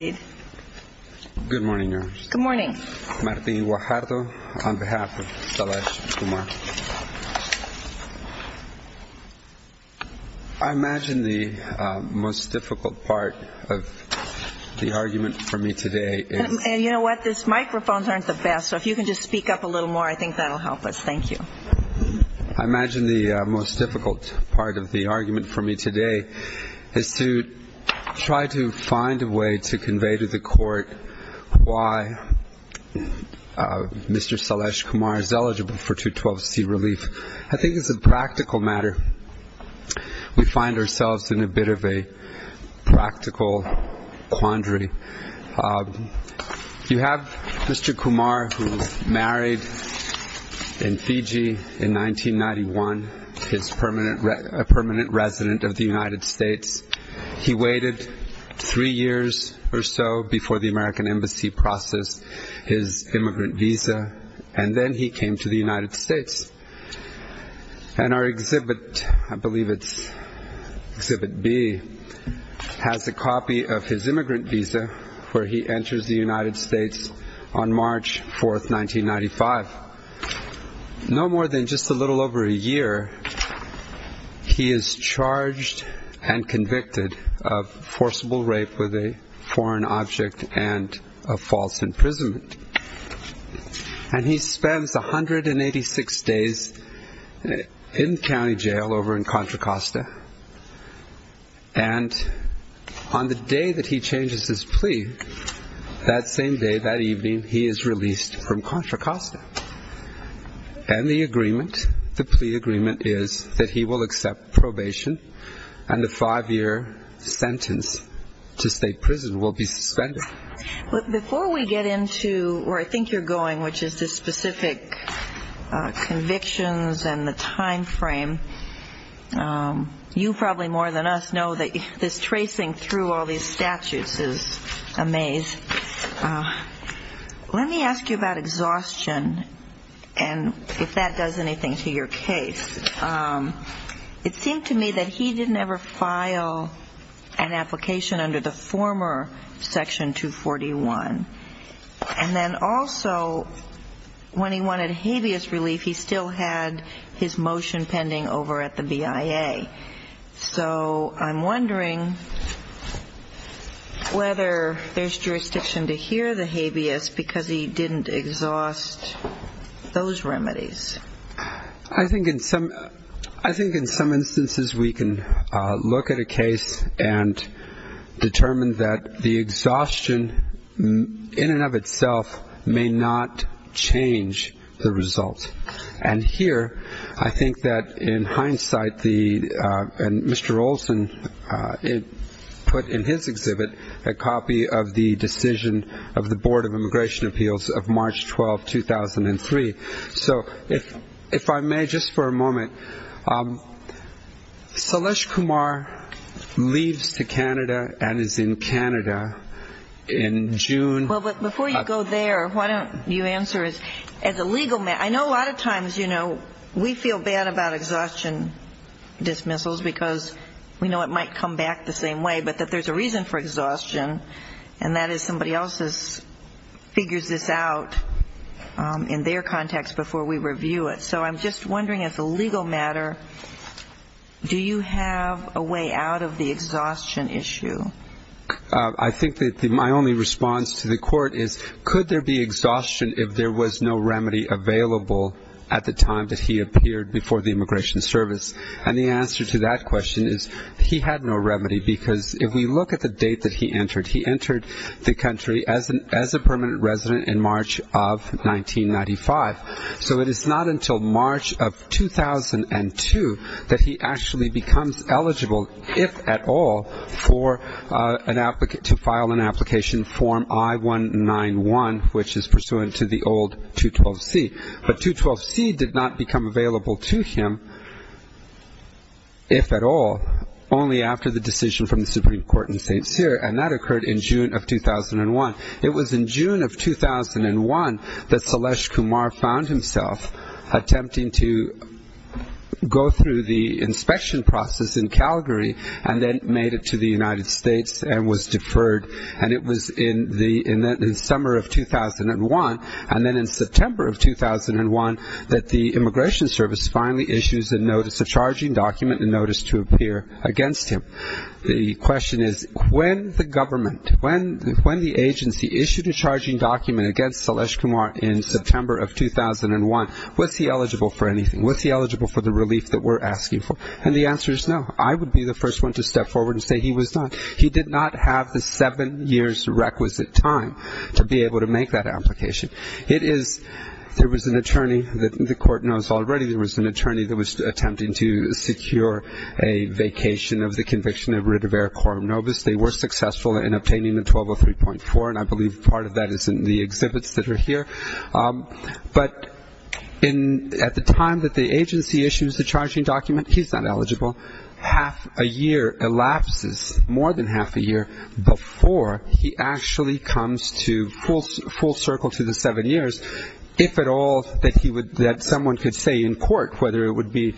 Good morning, Your Honor. Good morning. Martín Guajardo, on behalf of Salesh Kumar. I imagine the most difficult part of the argument for me today is... And you know what? These microphones aren't the best, so if you can just speak up a little more, I think that will help us. Thank you. I imagine the most difficult part of the argument for me today is to try to find a way to convey to the court why Mr. Salesh Kumar is eligible for 212C relief. I think it's a practical matter. We find ourselves in a bit of a practical quandary. You have Mr. Kumar, who was married in Fiji in 1991, a permanent resident of the United States. He waited three years or so before the American Embassy processed his immigrant visa, and then he came to the United States. And our exhibit, I believe it's exhibit B, has a copy of his immigrant visa where he enters the United States on March 4th, 1995. No more than just a little over a year, he is charged and convicted of forcible rape with a foreign object and a false imprisonment. And he spends 186 days in county jail over in Contra Costa. And on the day that he changes his plea, that same day, that evening, he is released from Contra Costa. And the agreement, the plea agreement, is that he will accept probation and the five-year sentence to state prison will be suspended. Before we get into where I think you're going, which is the specific convictions and the time frame, you probably more than us know that this tracing through all these statutes is a maze. Let me ask you about exhaustion and if that does anything to your case. It seemed to me that he didn't ever file an application under the former Section 241. And then also when he wanted habeas relief, he still had his motion pending over at the BIA. So I'm wondering whether there's jurisdiction to hear the habeas because he didn't exhaust those remedies. I think in some instances we can look at a case and determine that the exhaustion in and of itself may not change the result. And here I think that in hindsight, Mr. Olson put in his exhibit a copy of the decision of the Board of Immigration Appeals of March 12, 2003. So if I may, just for a moment, Salesh Kumar leaves to Canada and is in Canada in June. Well, but before you go there, why don't you answer as a legal matter. I know a lot of times, you know, we feel bad about exhaustion dismissals because we know it might come back the same way, but that there's a reason for exhaustion and that is somebody else figures this out in their context before we review it. So I'm just wondering as a legal matter, do you have a way out of the exhaustion issue? I think that my only response to the court is could there be exhaustion if there was no remedy available at the time that he appeared before the Immigration Service. And the answer to that question is he had no remedy because if we look at the date that he entered, he entered the country as a permanent resident in March of 1995. So it is not until March of 2002 that he actually becomes eligible, if at all, to file an application form I-191, which is pursuant to the old 212C. But 212C did not become available to him, if at all, only after the decision from the Supreme Court in St. Cyr. And that occurred in June of 2001. It was in June of 2001 that Salesh Kumar found himself attempting to go through the inspection process in Calgary and then made it to the United States and was deferred. And it was in the summer of 2001 and then in September of 2001 that the Immigration Service finally issues a notice, a charging document, a notice to appear against him. The question is when the government, when the agency issued a charging document against Salesh Kumar in September of 2001, was he eligible for anything? Was he eligible for the relief that we're asking for? And the answer is no. I would be the first one to step forward and say he was not. He did not have the seven years' requisite time to be able to make that application. It is, there was an attorney that the court knows already, there was an attorney that was attempting to secure a vacation of the conviction of Ritiver Corum Novus. They were successful in obtaining a 1203.4, and I believe part of that is in the exhibits that are here. But at the time that the agency issues the charging document, he's not eligible. Half a year elapses, more than half a year, before he actually comes to full circle to the seven years, if at all that someone could say in court, whether it would be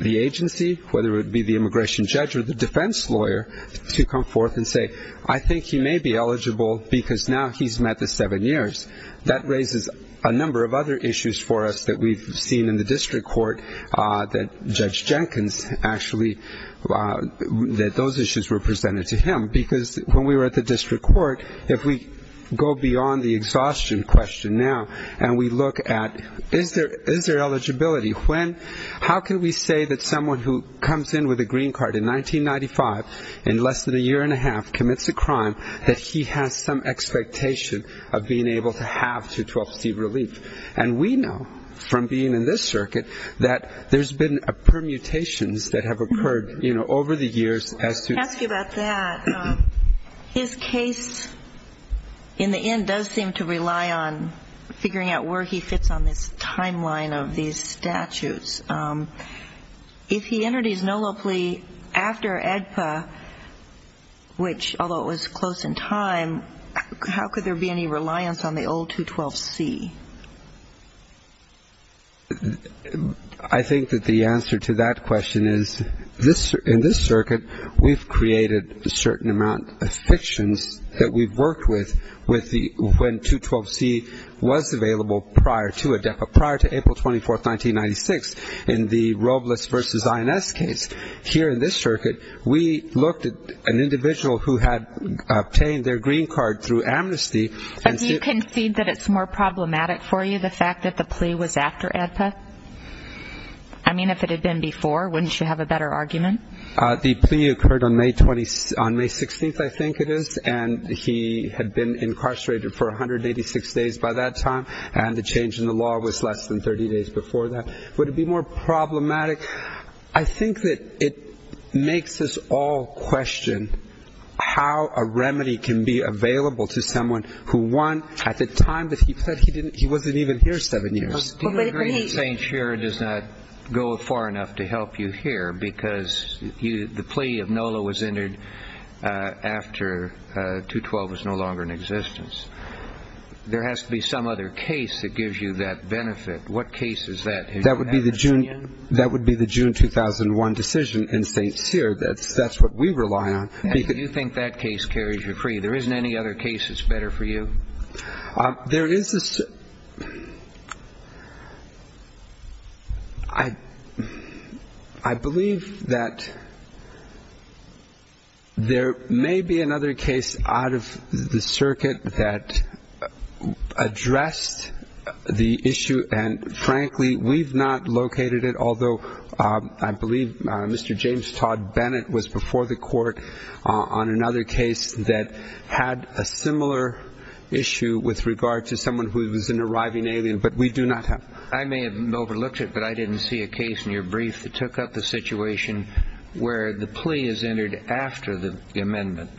the agency, whether it would be the immigration judge or the defense lawyer, to come forth and say, I think he may be eligible because now he's met the seven years. That raises a number of other issues for us that we've seen in the district court, that Judge Jenkins actually, that those issues were presented to him. Because when we were at the district court, if we go beyond the exhaustion question now, and we look at, is there eligibility? How can we say that someone who comes in with a green card in 1995, in less than a year and a half, commits a crime, that he has some expectation of being able to have to 12th Street relief? And we know from being in this circuit that there's been permutations that have occurred over the years. I'll ask you about that. His case in the end does seem to rely on figuring out where he fits on this timeline of these statutes. If he entered his NOLO plea after AEDPA, which, although it was close in time, how could there be any reliance on the old 212C? I think that the answer to that question is, in this circuit, we've created a certain amount of fictions that we've worked with when 212C was available prior to AEDPA. In 2006, in the Robles v. INS case, here in this circuit, we looked at an individual who had obtained their green card through amnesty. But do you concede that it's more problematic for you, the fact that the plea was after AEDPA? I mean, if it had been before, wouldn't you have a better argument? The plea occurred on May 16th, I think it is, and he had been incarcerated for 186 days by that time, and the change in the law was less than 30 days before that. Would it be more problematic? I think that it makes us all question how a remedy can be available to someone who, one, at the time that he fled, he wasn't even here seven years. Do you agree that St. Shera does not go far enough to help you here because the plea of NOLO was entered after 212 was no longer in existence? There has to be some other case that gives you that benefit. What case is that? That would be the June 2001 decision in St. Shera. That's what we rely on. Do you think that case carries you free? There isn't any other case that's better for you? There is a – I believe that there may be another case out of the circuit that addressed the issue, and frankly, we've not located it, although I believe Mr. James Todd Bennett was before the court on another case that had a similar issue with regard to someone who was an arriving alien. But we do not have – I may have overlooked it, but I didn't see a case in your brief that took up the situation where the plea is entered after the amendment.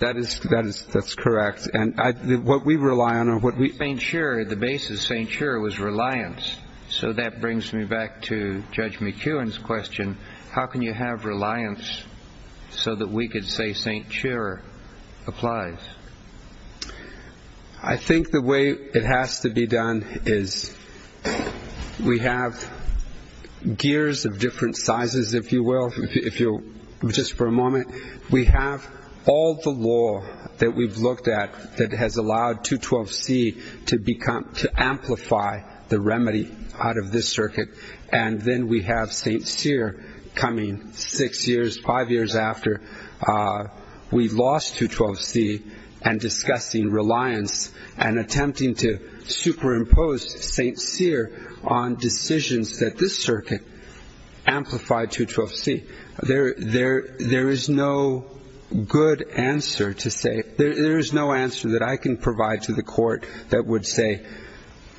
That is – that's correct. And what we rely on or what we – St. Shera, the basis of St. Shera was reliance. So that brings me back to Judge McKeown's question. How can you have reliance so that we could say St. Shera applies? I think the way it has to be done is we have gears of different sizes, if you will. If you'll – just for a moment. We have all the law that we've looked at that has allowed 212C to amplify the remedy out of this circuit, and then we have St. Sera coming six years, five years after we lost 212C and discussing reliance and attempting to superimpose St. Sera on decisions that this circuit amplified 212C. There is no good answer to say – there is no answer that I can provide to the court that would say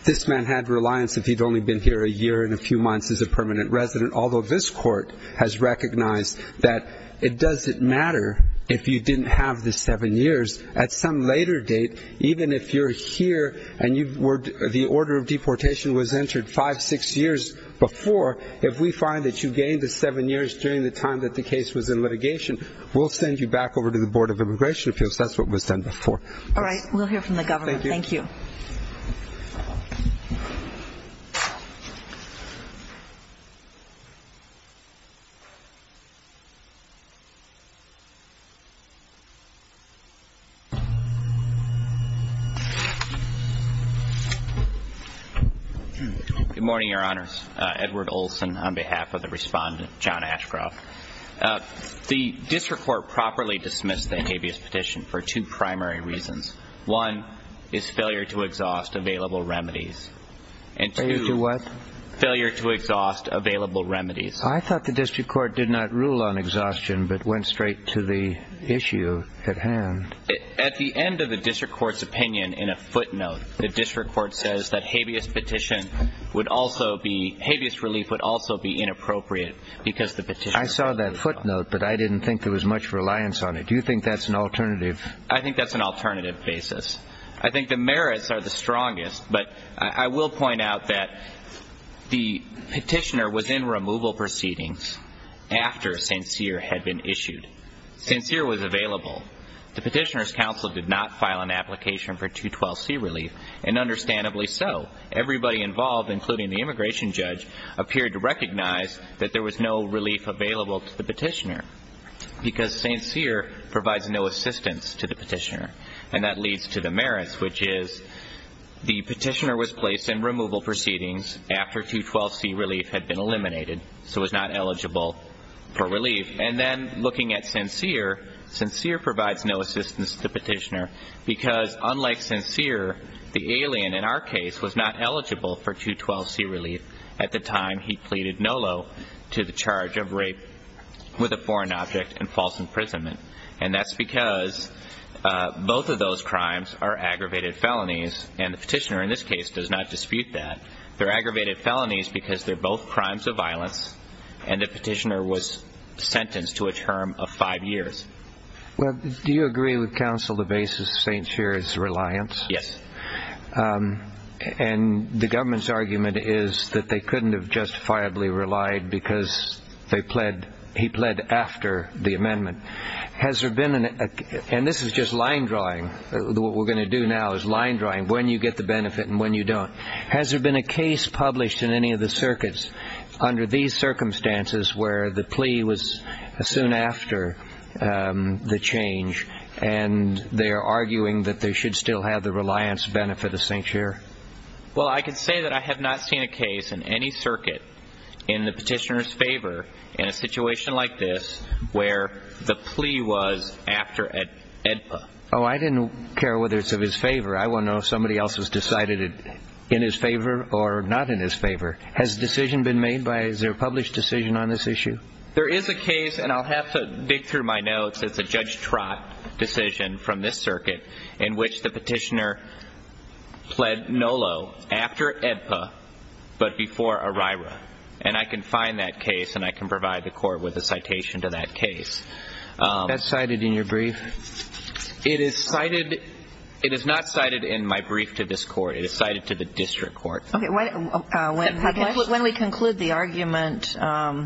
this man had reliance if he'd only been here a year and a few months as a permanent resident, although this court has recognized that it doesn't matter if you didn't have the seven years. At some later date, even if you're here and you were – the order of deportation was entered five, six years before, if we find that you gained the seven years during the time that the case was in litigation, we'll send you back over to the Board of Immigration Appeals. That's what was done before. All right. We'll hear from the government. Thank you. Good morning, Your Honors. Edward Olson on behalf of the Respondent, John Ashcroft. The district court properly dismissed the habeas petition for two primary reasons. One is failure to exhaust available remedies. And two – Failure to what? Failure to exhaust available remedies. I thought the district court did not rule on exhaustion but went straight to the issue at hand. At the end of the district court's opinion in a footnote, the district court says that habeas petition would also be – habeas relief would also be inappropriate because the petition – I saw that footnote, but I didn't think there was much reliance on it. Do you think that's an alternative? I think that's an alternative basis. I think the merits are the strongest, but I will point out that the petitioner was in removal proceedings after St. Cyr had been issued. St. Cyr was available. The petitioner's counsel did not file an application for 212C relief, and understandably so. Everybody involved, including the immigration judge, appeared to recognize that there was no relief available to the petitioner because St. Cyr provides no assistance to the petitioner. And that leads to the merits, which is the petitioner was placed in removal proceedings after 212C relief had been eliminated, so was not eligible for relief. And then looking at St. Cyr, St. Cyr provides no assistance to the petitioner because unlike St. Cyr, the alien in our case was not eligible for 212C relief at the time he pleaded NOLO to the charge of rape with a foreign object and false imprisonment. And that's because both of those crimes are aggravated felonies, and the petitioner in this case does not dispute that. They're aggravated felonies because they're both crimes of violence, and the petitioner was sentenced to a term of five years. Well, do you agree with counsel the basis of St. Cyr's reliance? Yes. And the government's argument is that they couldn't have justifiably relied because he pled after the amendment. And this is just line drawing. What we're going to do now is line drawing when you get the benefit and when you don't. Has there been a case published in any of the circuits under these circumstances where the plea was soon after the change, and they're arguing that they should still have the reliance benefit of St. Cyr? Well, I can say that I have not seen a case in any circuit in the petitioner's favor in a situation like this where the plea was after AEDPA. Oh, I didn't care whether it's of his favor. I want to know if somebody else has decided it in his favor or not in his favor. Has a decision been made by, is there a published decision on this issue? There is a case, and I'll have to dig through my notes, it's a Judge Trott decision from this circuit in which the petitioner pled NOLO after AEDPA but before ERIRA. And I can find that case and I can provide the court with a citation to that case. Is that cited in your brief? It is cited. It is not cited in my brief to this court. It is cited to the district court. When we conclude the argument, why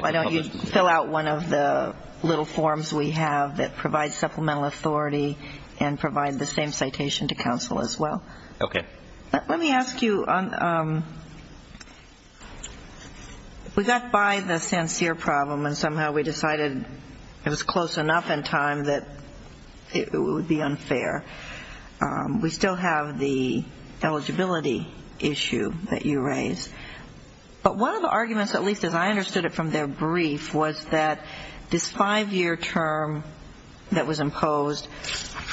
don't you fill out one of the little forms we have that provides supplemental authority and provide the same citation to counsel as well. Okay. Let me ask you, we got by the St. Cyr problem and somehow we decided it was close enough in time that it would be unfair. We still have the eligibility issue that you raised. But one of the arguments, at least as I understood it from their brief, was that this five-year term that was imposed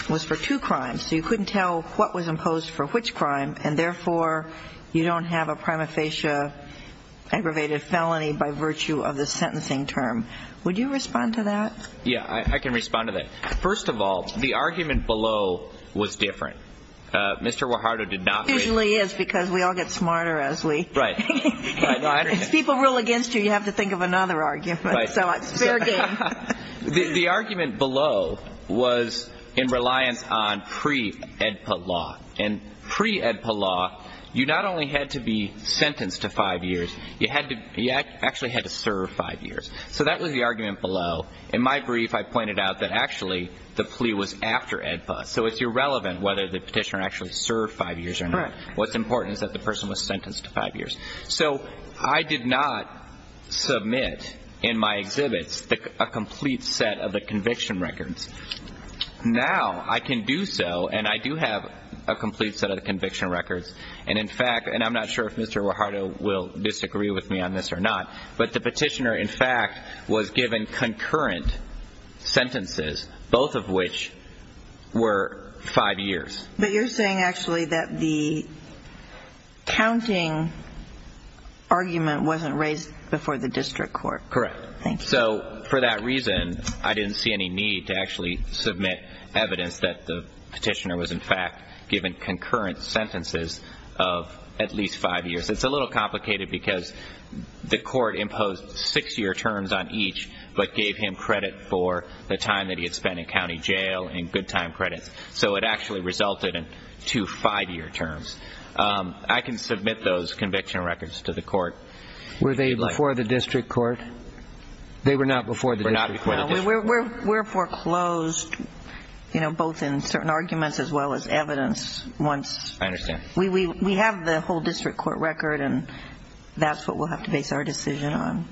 was for two crimes. So you couldn't tell what was imposed for which crime and therefore you don't have a prima facie aggravated felony by virtue of the sentencing term. Would you respond to that? Yeah, I can respond to that. First of all, the argument below was different. Mr. Guajardo did not raise it. It usually is because we all get smarter as people rule against you, you have to think of another argument. Fair game. The argument below was in reliance on pre-AEDPA law. And pre-AEDPA law, you not only had to be sentenced to five years, you actually had to serve five years. So that was the argument below. In my brief, I pointed out that actually the plea was after AEDPA. So it's irrelevant whether the petitioner actually served five years or not. What's important is that the person was sentenced to five years. So I did not submit in my exhibits a complete set of the conviction records. Now I can do so, and I do have a complete set of the conviction records, and in fact, and I'm not sure if Mr. Guajardo will disagree with me on this or not, but the petitioner, in fact, was given concurrent sentences, both of which were five years. But you're saying actually that the counting argument wasn't raised before the district court. Correct. So for that reason, I didn't see any need to actually submit evidence that the petitioner was, in fact, given concurrent sentences of at least five years. It's a little complicated because the court imposed six-year terms on each but gave him credit for the time that he had spent in county jail and good time credits. So it actually resulted in two five-year terms. I can submit those conviction records to the court. Were they before the district court? They were not before the district court. No, we're foreclosed both in certain arguments as well as evidence once. I understand. We have the whole district court record, and that's what we'll have to base our decision on.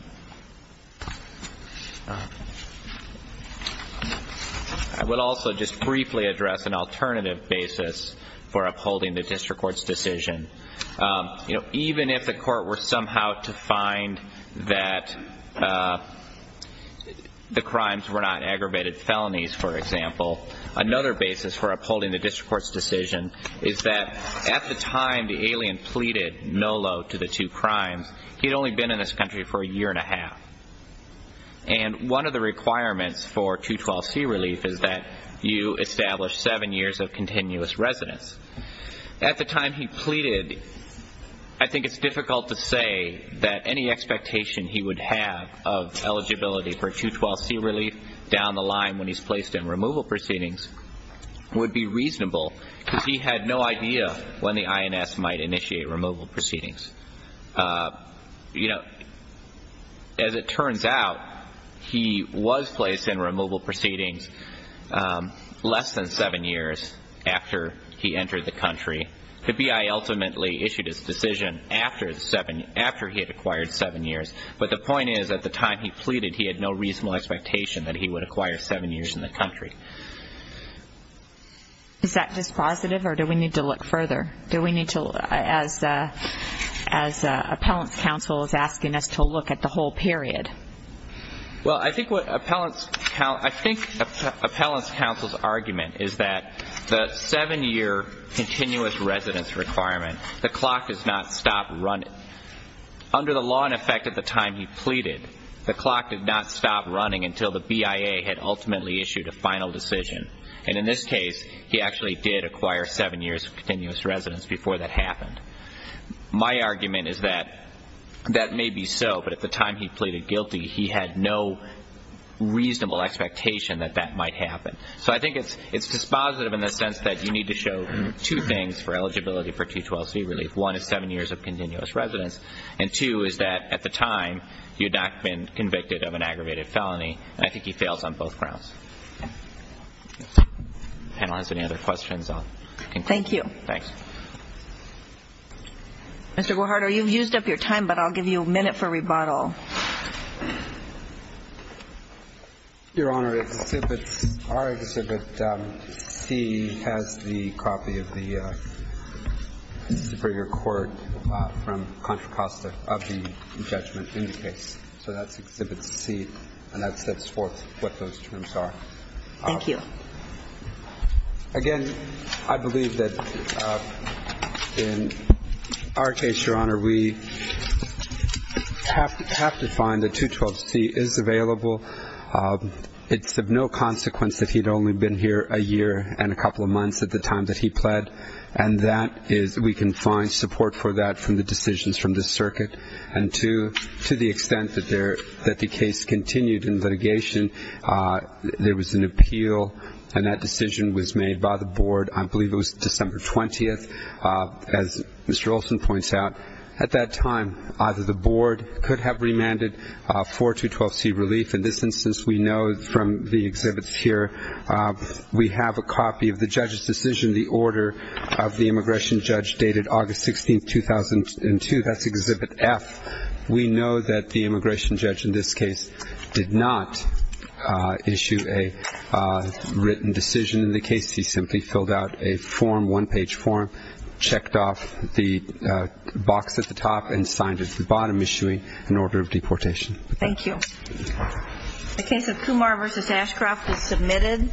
I would also just briefly address an alternative basis for upholding the district court's decision. Even if the court were somehow to find that the crimes were not aggravated felonies, for example, another basis for upholding the district court's decision is that at the time the alien pleaded no load to the two crimes, he had only been in this country for a year and a half. And one of the requirements for 212C relief is that you establish seven years of continuous residence. At the time he pleaded, I think it's difficult to say that any expectation he would have of eligibility for 212C relief down the line when he's placed in removal proceedings would be reasonable, because he had no idea when the INS might initiate removal proceedings. You know, as it turns out, he was placed in removal proceedings less than seven years after he entered the country. The BI ultimately issued his decision after he had acquired seven years, but the point is, at the time he pleaded, he had no reasonable expectation that he would acquire seven years in the country. Is that just positive, or do we need to look further? Do we need to, as appellant's counsel is asking us to look at the whole period? Well, I think appellant's counsel's argument is that the seven-year continuous residence requirement, the clock does not stop running. Under the law in effect at the time he pleaded, the clock did not stop running until the BIA had ultimately issued a final decision. And in this case, he actually did acquire seven years of continuous residence before that happened. My argument is that that may be so, but at the time he pleaded guilty, he had no reasonable expectation that that might happen. So I think it's just positive in the sense that you need to show two things for eligibility for 212c relief. One is seven years of continuous residence, and two is that at the time, he had not been convicted of an aggravated felony, and I think he fails on both grounds. Panelists, any other questions? Thank you. Thanks. Mr. Guajardo, you've used up your time, but I'll give you a minute for rebuttal. Your Honor, our Exhibit C has the copy of the Superior Court from Contra Costa of the judgment in the case. So that's Exhibit C, and that sets forth what those terms are. Thank you. Again, I believe that in our case, Your Honor, we have to find that 212c is available. It's of no consequence that he'd only been here a year and a couple of months at the time that he pled, and that is we can find support for that from the decisions from the circuit. And to the extent that the case continued in litigation, there was an appeal, and that decision was made by the board, I believe it was December 20th, as Mr. Olson points out. At that time, either the board could have remanded for 212c relief. In this instance, we know from the exhibits here, we have a copy of the judge's decision, the order of the immigration judge dated August 16th, 2002. That's Exhibit F. We know that the immigration judge in this case did not issue a written decision in the case. He simply filled out a form, one-page form, checked off the box at the top, and signed it at the bottom, issuing an order of deportation. Thank you. The case of Kumar v. Ashcroft was submitted.